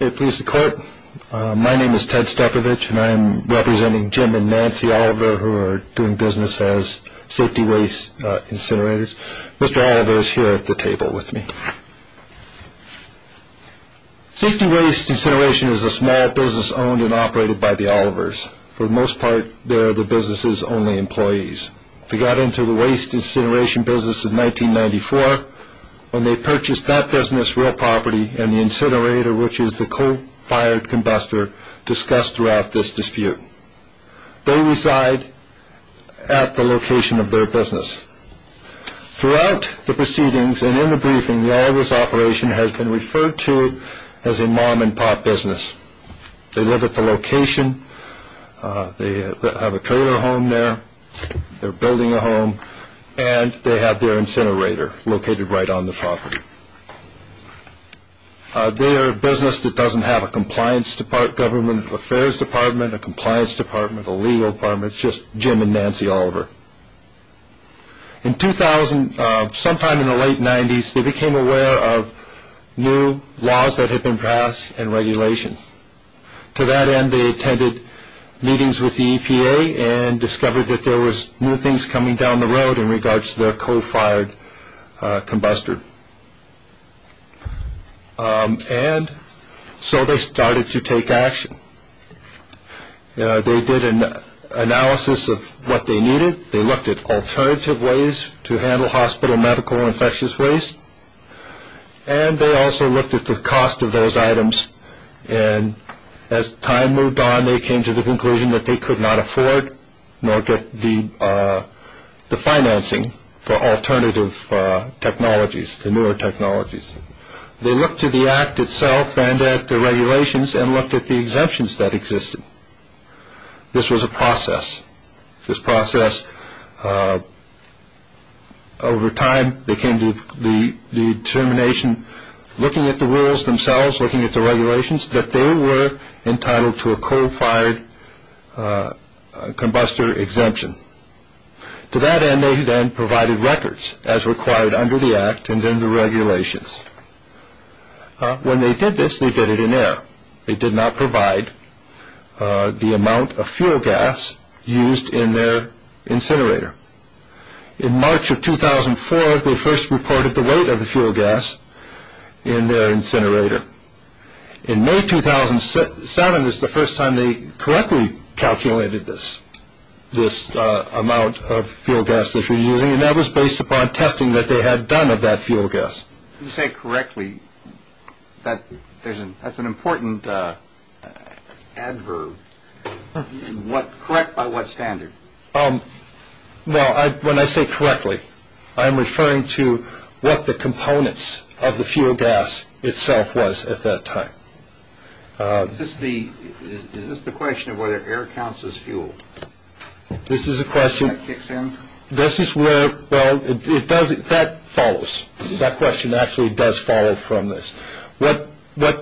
May it please the Court, my name is Ted Stepovich and I am representing Jim and Nancy Oliver who are doing business as Safety Waste Incinerators. Mr. Oliver is here at the table with me. Safety Waste Incineration is a small business owned and operated by the Olivers. For the most part, they are the business's only employees. They got into the waste incineration business in 1994 when they purchased that business real property and the incinerator, which is the coal-fired combustor, discussed throughout this dispute. They reside at the location of their business. Throughout the proceedings and in the briefing, the Olivers' operation has been referred to as a mom-and-pop business. They live at the location, they have a trailer home there, they're building a home, and they have their incinerator located right on the property. They are a business that doesn't have a compliance department, a government affairs department, a compliance department, a legal department, it's just Jim and Nancy Oliver. Sometime in the late 90s, they became aware of new laws that had been passed and regulation. To that end, they attended meetings with the EPA and discovered that there was new things coming down the road in regards to their coal-fired combustor. And so they started to take action. They did an analysis of what they needed, they looked at alternative ways to handle hospital medical infectious waste, and they also looked at the cost of those items. And as time moved on, they came to the conclusion that they could not afford nor get the financing for alternative technologies, the newer technologies. They looked to the Act itself and at the regulations and looked at the exemptions that existed. This was a process. This process, over time, they came to the determination, looking at the rules themselves, looking at the regulations, that they were entitled to a coal-fired combustor exemption. To that end, they then provided records as required under the Act and then the regulations. When they did this, they did it in air. They did not provide the amount of fuel gas used in their incinerator. In March of 2004, they first reported the weight of the fuel gas in their incinerator. In May 2007 is the first time they correctly calculated this, this amount of fuel gas that you're using, and that was based upon testing that they had done of that fuel gas. When you say correctly, that's an important adverb. Correct by what standard? Well, when I say correctly, I'm referring to what the components of the fuel gas itself was at that time. Is this the question of whether air counts as fuel? This is a question. That kicks in? Well, that follows. That question actually does follow from this. What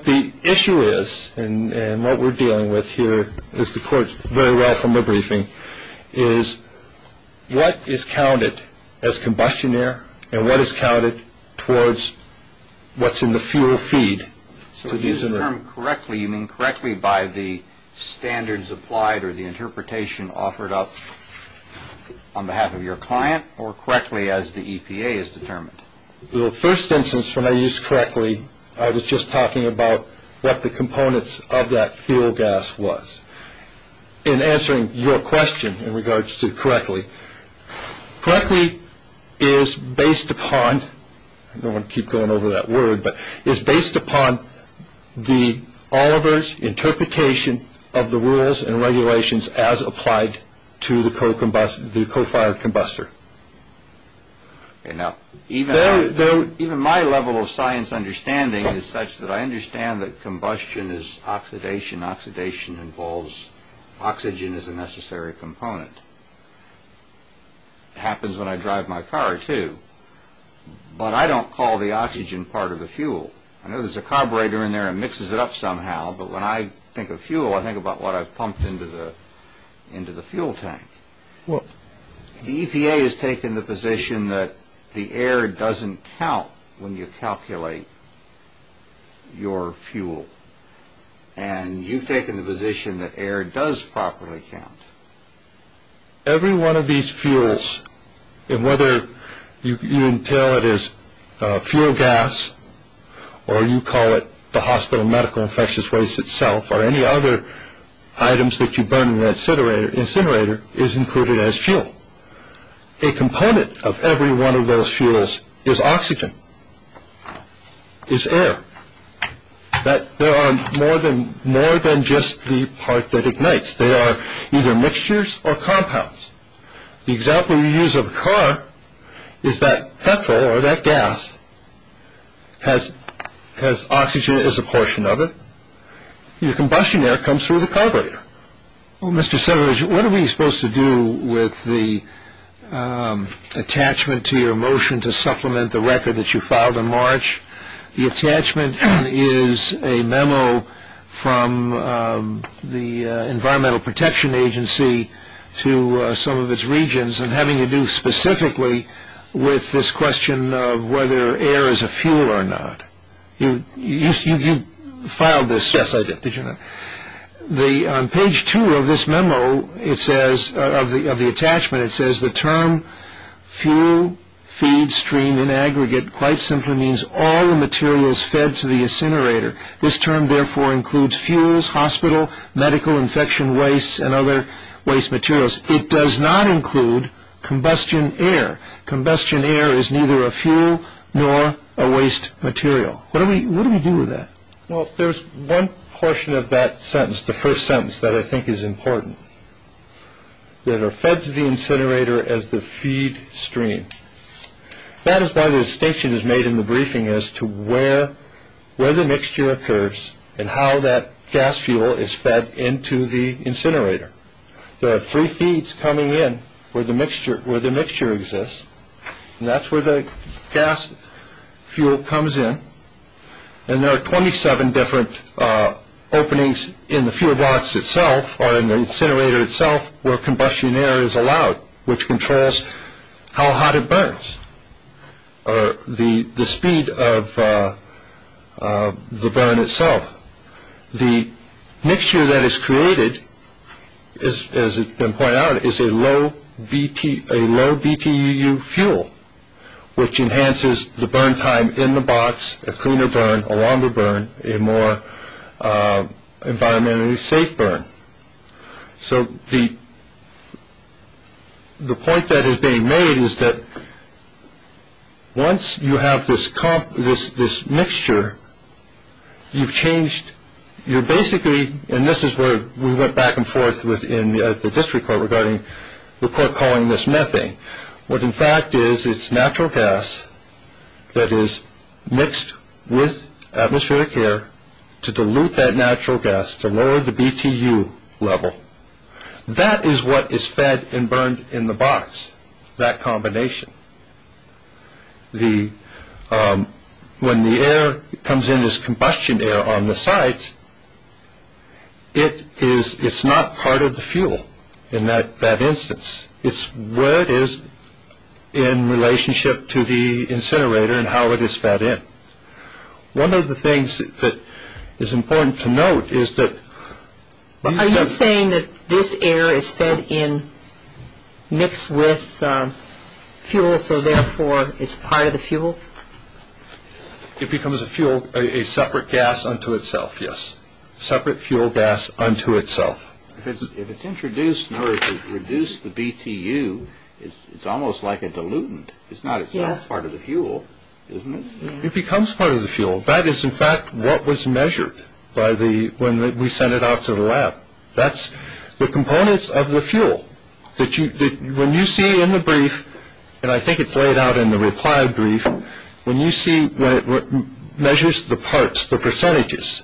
the issue is and what we're dealing with here, as the court very well from the briefing, is what is counted as combustion air and what is counted towards what's in the fuel feed. So to use the term correctly, you mean correctly by the standards applied or the interpretation offered up on behalf of your client or correctly as the EPA has determined? Well, the first instance when I used correctly, I was just talking about what the components of that fuel gas was. In answering your question in regards to correctly, correctly is based upon, I don't want to keep going over that word, but is based upon the Oliver's interpretation of the rules and regulations as applied to the co-fired combustor. Now, even my level of science understanding is such that I understand that combustion is oxidation. Oxidation involves oxygen as a necessary component. It happens when I drive my car, too. But I don't call the oxygen part of the fuel. I know there's a carburetor in there and mixes it up somehow, but when I think of fuel, I think about what I've pumped into the fuel tank. The EPA has taken the position that the air doesn't count when you calculate your fuel, and you've taken the position that air does properly count. Every one of these fuels, and whether you entail it as fuel gas or you call it the hospital medical infectious waste itself or any other items that you burn in the incinerator, is included as fuel. A component of every one of those fuels is oxygen, is air. There are more than just the part that ignites. They are either mixtures or compounds. The example you use of a car is that petrol or that gas has oxygen as a portion of it, and the combustion air comes through the carburetor. Well, Mr. Sedler, what are we supposed to do with the attachment to your motion to supplement the record that you filed in March? The attachment is a memo from the Environmental Protection Agency to some of its regions and having to do specifically with this question of whether air is a fuel or not. You filed this, didn't you? Yes, I did. On page two of this memo, of the attachment, it says, the term fuel feed stream in aggregate quite simply means all the materials fed to the incinerator. This term therefore includes fuels, hospital, medical infection waste, and other waste materials. It does not include combustion air. Combustion air is neither a fuel nor a waste material. What do we do with that? Well, there's one portion of that sentence, the first sentence, that I think is important. That are fed to the incinerator as the feed stream. That is why the distinction is made in the briefing as to where the mixture occurs and how that gas fuel is fed into the incinerator. There are three feeds coming in where the mixture exists, and that's where the gas fuel comes in. There are 27 different openings in the fuel box itself, or in the incinerator itself, where combustion air is allowed, which controls how hot it burns, or the speed of the burn itself. The mixture that is created, as has been pointed out, is a low BTUU fuel, which enhances the burn time in the box, a cleaner burn, a longer burn, a more environmentally safe burn. So the point that is being made is that once you have this mixture, you've changed, you're basically, and this is where we went back and forth within the district court regarding the court calling this methane. What, in fact, is it's natural gas that is mixed with atmospheric air to dilute that natural gas to lower the BTUU level. That is what is fed and burned in the box, that combination. When the air comes in as combustion air on the site, it's not part of the fuel in that instance. It's where it is in relationship to the incinerator and how it is fed in. One of the things that is important to note is that… Are you saying that this air is fed in, mixed with fuel, so therefore it's part of the fuel? It becomes a fuel, a separate gas unto itself, yes. Separate fuel gas unto itself. If it's introduced in order to reduce the BTUU, it's almost like a dilutant. It's not itself part of the fuel, isn't it? It becomes part of the fuel. That is, in fact, what was measured when we sent it out to the lab. That's the components of the fuel. When you see in the brief, and I think it's laid out in the reply brief, when you see it measures the parts, the percentages,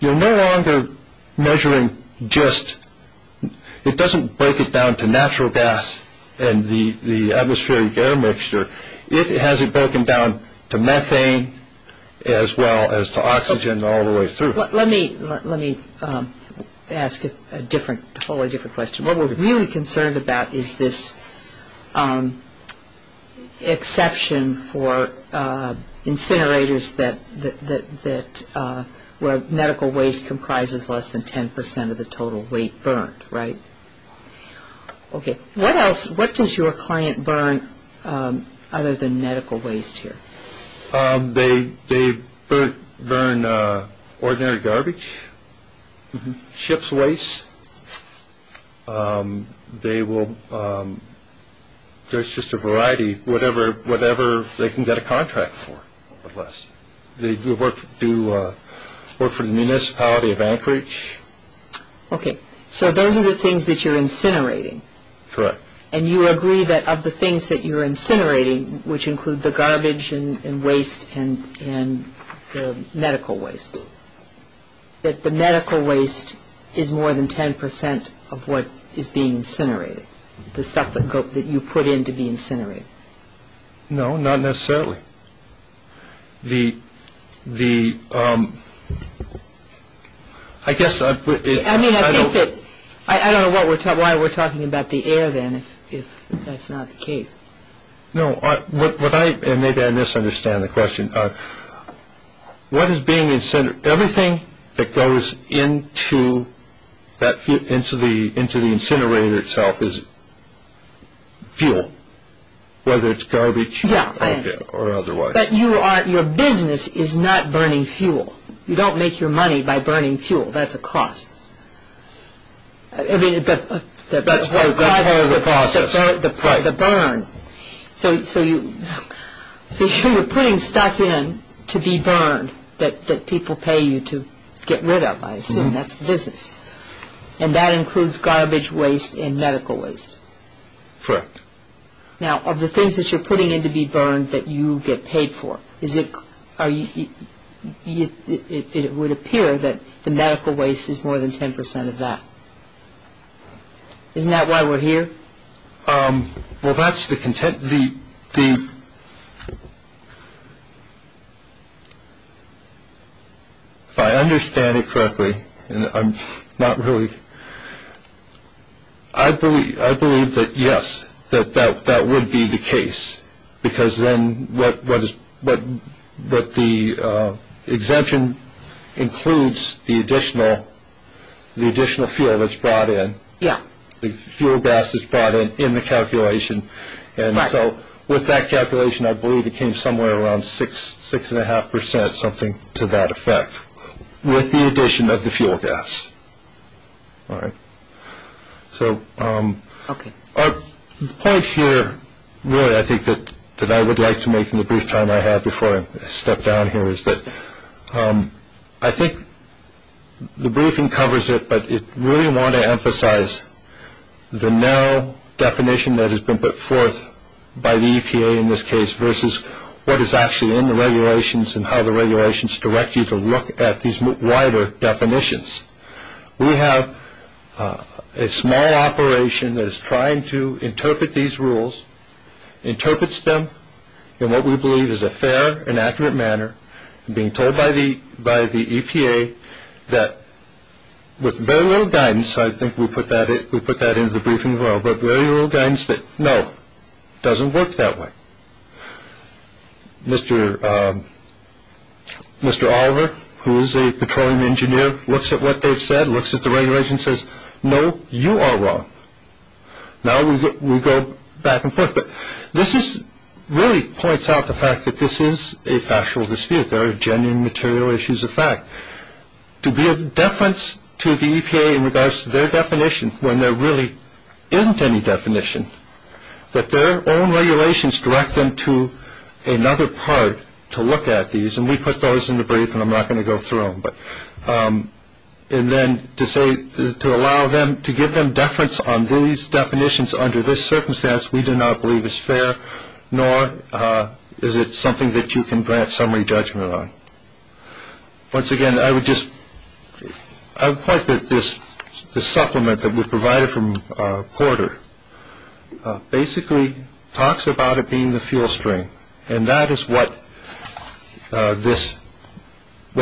you're no longer measuring just… It doesn't break it down to natural gas and the atmospheric air mixture. It has it broken down to methane as well as to oxygen all the way through. Let me ask a different, wholly different question. What we're really concerned about is this exception for incinerators where medical waste comprises less than 10 percent of the total weight burned, right? Okay. What else, what does your client burn other than medical waste here? They burn ordinary garbage, ship's waste. They will, there's just a variety, whatever they can get a contract for. They do work for the municipality of Anchorage. Okay. So those are the things that you're incinerating. Correct. And you agree that of the things that you're incinerating, which include the garbage and waste and the medical waste, that the medical waste is more than 10 percent of what is being incinerated, the stuff that you put in to be incinerated? No, not necessarily. The… I guess… I don't know why we're talking about the air then if that's not the case. No, what I, and maybe I misunderstand the question, what is being incinerated, everything that goes into the incinerator itself is fuel, whether it's garbage or otherwise. But your business is not burning fuel. You don't make your money by burning fuel. That's a cost. That's part of the process. The burn. So you're putting stuff in to be burned that people pay you to get rid of. I assume that's the business. And that includes garbage waste and medical waste. Correct. Now, of the things that you're putting in to be burned that you get paid for, it would appear that the medical waste is more than 10 percent of that. Isn't that why we're here? Well, that's the… If I understand it correctly, I'm not really… I believe that, yes, that would be the case, because then what the exemption includes, the additional fuel that's brought in. Yeah. The fuel gas that's brought in in the calculation. And so with that calculation, I believe it came somewhere around six, six and a half percent, something to that effect, with the addition of the fuel gas. All right. So the point here, really, I think that I would like to make in the brief time I have before I step down here, is that I think the briefing covers it, but I really want to emphasize the now definition that has been put forth by the EPA in this case, versus what is actually in the regulations and how the regulations direct you to look at these wider definitions. We have a small operation that is trying to interpret these rules, interprets them in what we believe is a fair and accurate manner, and being told by the EPA that, with very little guidance, I think we put that into the briefing as well, but very little guidance that, no, it doesn't work that way. Mr. Oliver, who is a petroleum engineer, looks at what they've said, looks at the regulations, and says, no, you are wrong. Now we go back and forth, but this really points out the fact that this is a factual dispute. There are genuine material issues of fact. To be of deference to the EPA in regards to their definition, when there really isn't any definition, that their own regulations direct them to another part to look at these, and we put those in the brief and I'm not going to go through them. And then to say, to allow them, to give them deference on these definitions under this circumstance, we do not believe is fair, nor is it something that you can grant summary judgment on. Once again, I would just point that this supplement that we provided from Porter, basically talks about it being the fuel stream, and that is what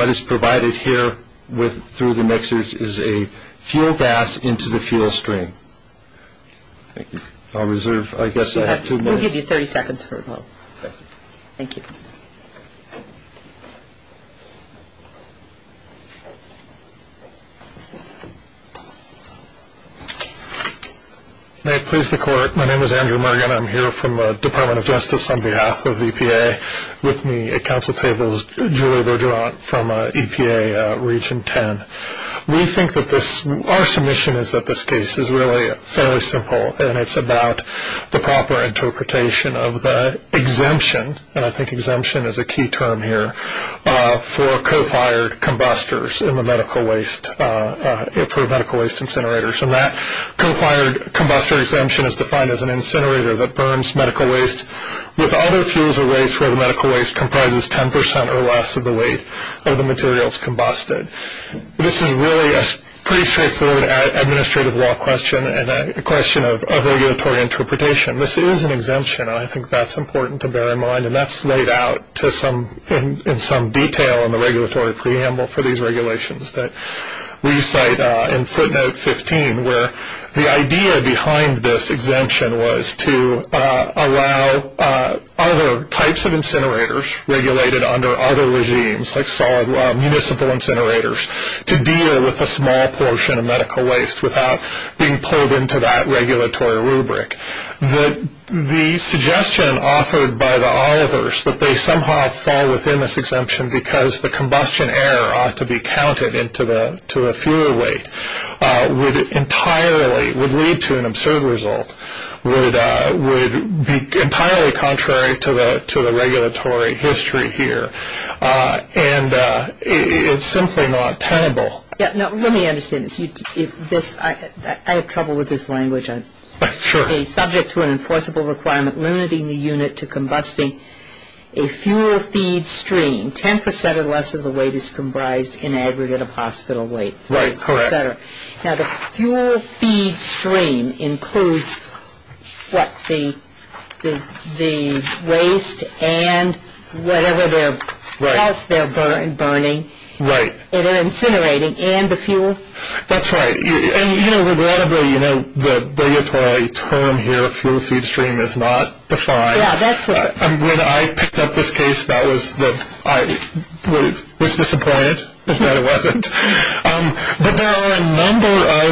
is provided here through the mixers is a fuel gas into the fuel stream. I'll reserve, I guess, I have two minutes. We'll give you 30 seconds for a vote. Thank you. May it please the Court. My name is Andrew Mergen. I'm here from the Department of Justice on behalf of EPA. With me at Council table is Julie Vergeron from EPA Region 10. We think that this, our submission is that this case is really fairly simple, and it's about the proper interpretation of the exemption, and I think exemption is a key term here, for co-fired combustors in the medical waste, for medical waste incinerators. And that co-fired combustor exemption is defined as an incinerator that burns medical waste with other fuels or waste where the medical waste comprises 10% or less of the weight of the materials combusted. This is really a pretty straightforward administrative law question and a question of regulatory interpretation. This is an exemption, and I think that's important to bear in mind, and that's laid out in some detail in the regulatory preamble for these regulations that we cite in footnote 15, where the idea behind this exemption was to allow other types of incinerators regulated under other regimes, like municipal incinerators, to deal with a small portion of medical waste without being pulled into that regulatory rubric. The suggestion offered by the Olivers that they somehow fall within this exemption because the combustion air ought to be counted into the fuel weight would entirely, would lead to an absurd result, would be entirely contrary to the regulatory history here. And it's simply not tenable. Now, let me understand this. I have trouble with this language. Sure. Subject to an enforceable requirement limiting the unit to combusting a fuel feed stream, 10% or less of the weight is comprised in aggregate of hospital waste, et cetera. Right, correct. Now, the fuel feed stream includes what, the waste and whatever else they're burning. Right. And they're incinerating, and the fuel. That's right. And, you know, regrettably, you know, the regulatory term here, fuel feed stream, is not defined. Yeah, that's right. When I picked up this case, that was the, I was disappointed that it wasn't. But there are a number of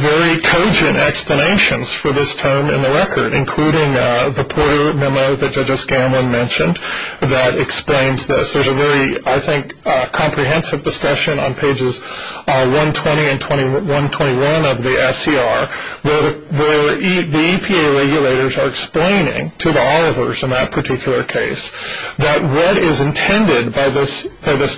very cogent explanations for this term in the record, including the Porter memo that Judge O'Scanlan mentioned that explains this. There's a very, I think, comprehensive discussion on pages 120 and 121 of the SCR, where the EPA regulators are explaining to the Olivers in that particular case that what is intended by this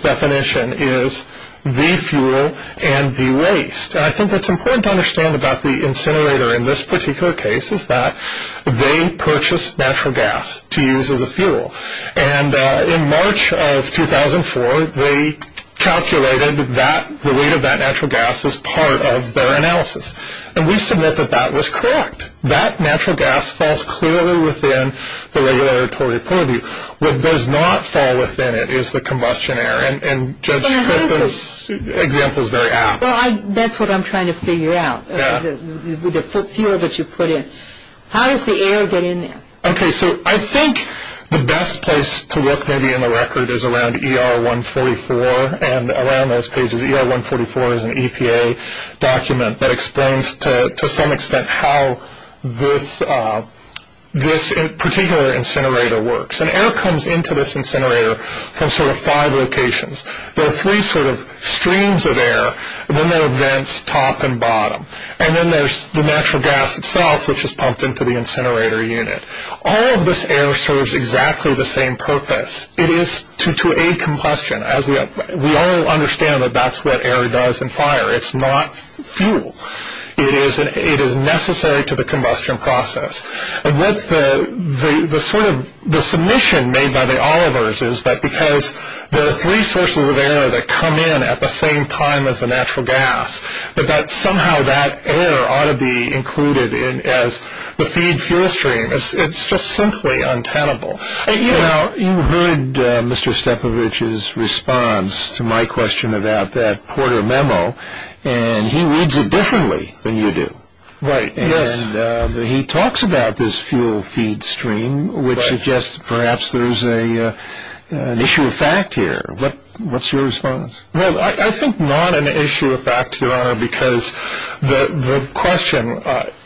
definition is the fuel and the waste. And I think what's important to understand about the incinerator in this particular case is that they purchased natural gas to use as a fuel. And in March of 2004, they calculated that the weight of that natural gas is part of their analysis. And we submit that that was correct. That natural gas falls clearly within the regulatory purview. What does not fall within it is the combustion air. And Judge Griffin's example is very apt. Well, that's what I'm trying to figure out with the fuel that you put in. How does the air get in there? Okay, so I think the best place to look maybe in the record is around ER 144 and around those pages. ER 144 is an EPA document that explains to some extent how this particular incinerator works. And air comes into this incinerator from sort of five locations. There are three sort of streams of air, and then there are vents top and bottom. And then there's the natural gas itself, which is pumped into the incinerator unit. All of this air serves exactly the same purpose. It is to aid combustion. We all understand that that's what air does in fire. It's not fuel. It is necessary to the combustion process. And what the sort of submission made by the Olivers is that because there are three sources of air that come in at the same time as the natural gas, that somehow that air ought to be included as the feed fuel stream. It's just simply untenable. You know, you heard Mr. Stepovich's response to my question about that Porter memo, and he reads it differently than you do. Right, yes. And he talks about this fuel feed stream, which suggests perhaps there's an issue of fact here. What's your response? Well, I think not an issue of fact, Your Honor, because the question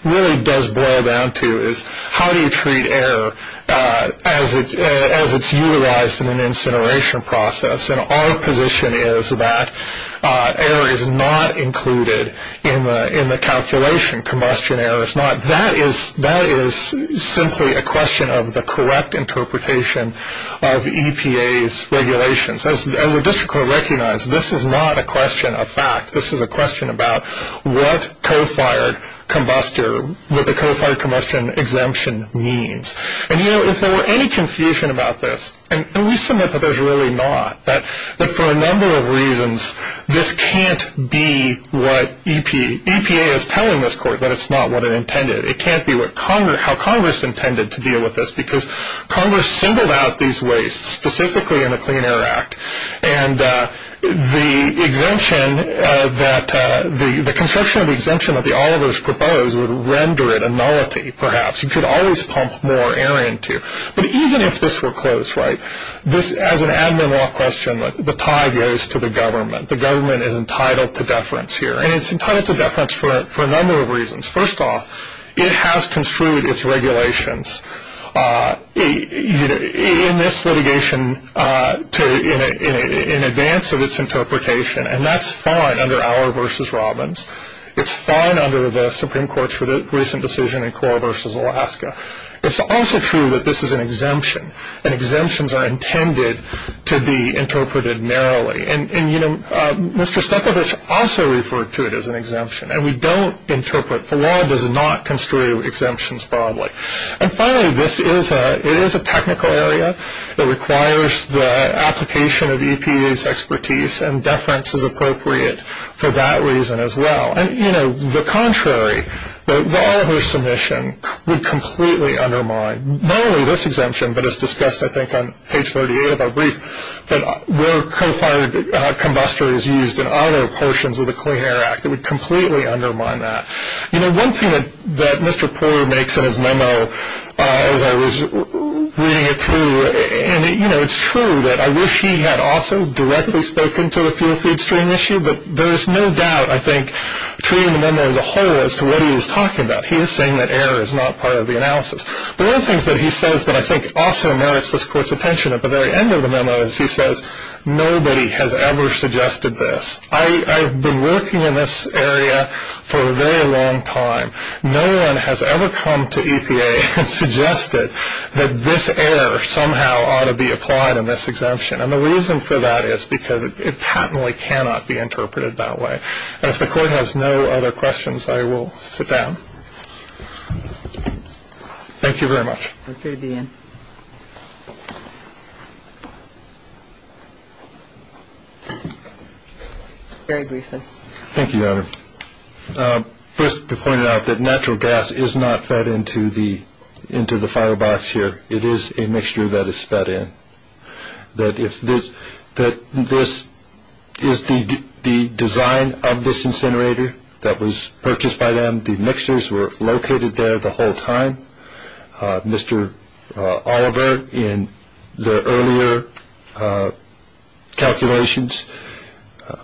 really does boil down to is, how do you treat air as it's utilized in an incineration process? And our position is that air is not included in the calculation. Combustion air is not. That is simply a question of the correct interpretation of EPA's regulations. As the district court recognized, this is not a question of fact. This is a question about what co-fired combustor, what the co-fired combustion exemption means. And, you know, if there were any confusion about this, and we submit that there's really not, that for a number of reasons this can't be what EPA is telling this court that it's not what it intended. It can't be how Congress intended to deal with this, because Congress singled out these wastes specifically in the Clean Air Act, and the exemption that the construction of the exemption that the Olivers proposed would render it a nullity, perhaps. You could always pump more air into it. But even if this were closed, right, this, as an admin law question, the tie goes to the government. The government is entitled to deference here, and it's entitled to deference for a number of reasons. First off, it has construed its regulations in this litigation in advance of its interpretation, and that's fine under Auer v. Robbins. It's fine under the Supreme Court's recent decision in Cora v. Alaska. It's also true that this is an exemption, and exemptions are intended to be interpreted narrowly. And, you know, Mr. Stepovich also referred to it as an exemption, and we don't interpret, the law does not construe exemptions broadly. And finally, this is a technical area. It requires the application of EPA's expertise, and deference is appropriate for that reason as well. And, you know, the contrary, the Oliver submission would completely undermine not only this exemption, but as discussed, I think, on page 38 of our brief, that where co-fired combustor is used in other portions of the Clean Air Act. It would completely undermine that. You know, one thing that Mr. Poehler makes in his memo, as I was reading it through, and, you know, it's true that I wish he had also directly spoken to the fuel feed stream issue, but there is no doubt, I think, between the memo as a whole as to what he was talking about. He is saying that error is not part of the analysis. But one of the things that he says that I think also merits this Court's attention at the very end of the memo, is he says, nobody has ever suggested this. I've been working in this area for a very long time. No one has ever come to EPA and suggested that this error somehow ought to be applied in this exemption. And the reason for that is because it patently cannot be interpreted that way. And if the Court has no other questions, I will sit down. Thank you very much. Mr. Deane. Very briefly. Thank you, Your Honor. First, to point out that natural gas is not fed into the firebox here. It is a mixture that is fed in. That this is the design of this incinerator that was purchased by them. The mixtures were located there the whole time. Mr. Oliver, in the earlier calculations,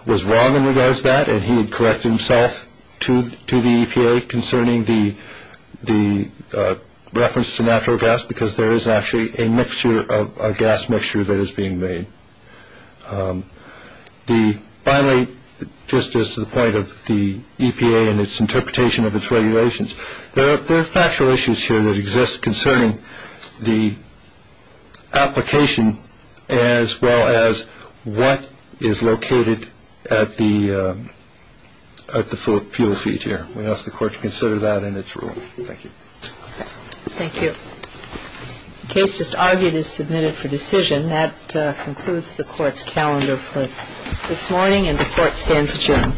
was wrong in regards to that, and he had corrected himself to the EPA concerning the reference to natural gas because there is actually a mixture of a gas mixture that is being made. Finally, just as to the point of the EPA and its interpretation of its regulations, there are factual issues here that exist concerning the application as well as what is located at the fuel feed here. We ask the Court to consider that in its rule. Thank you. Thank you. The case just argued is submitted for decision. That concludes the Court's calendar for this morning, and the Court stands adjourned.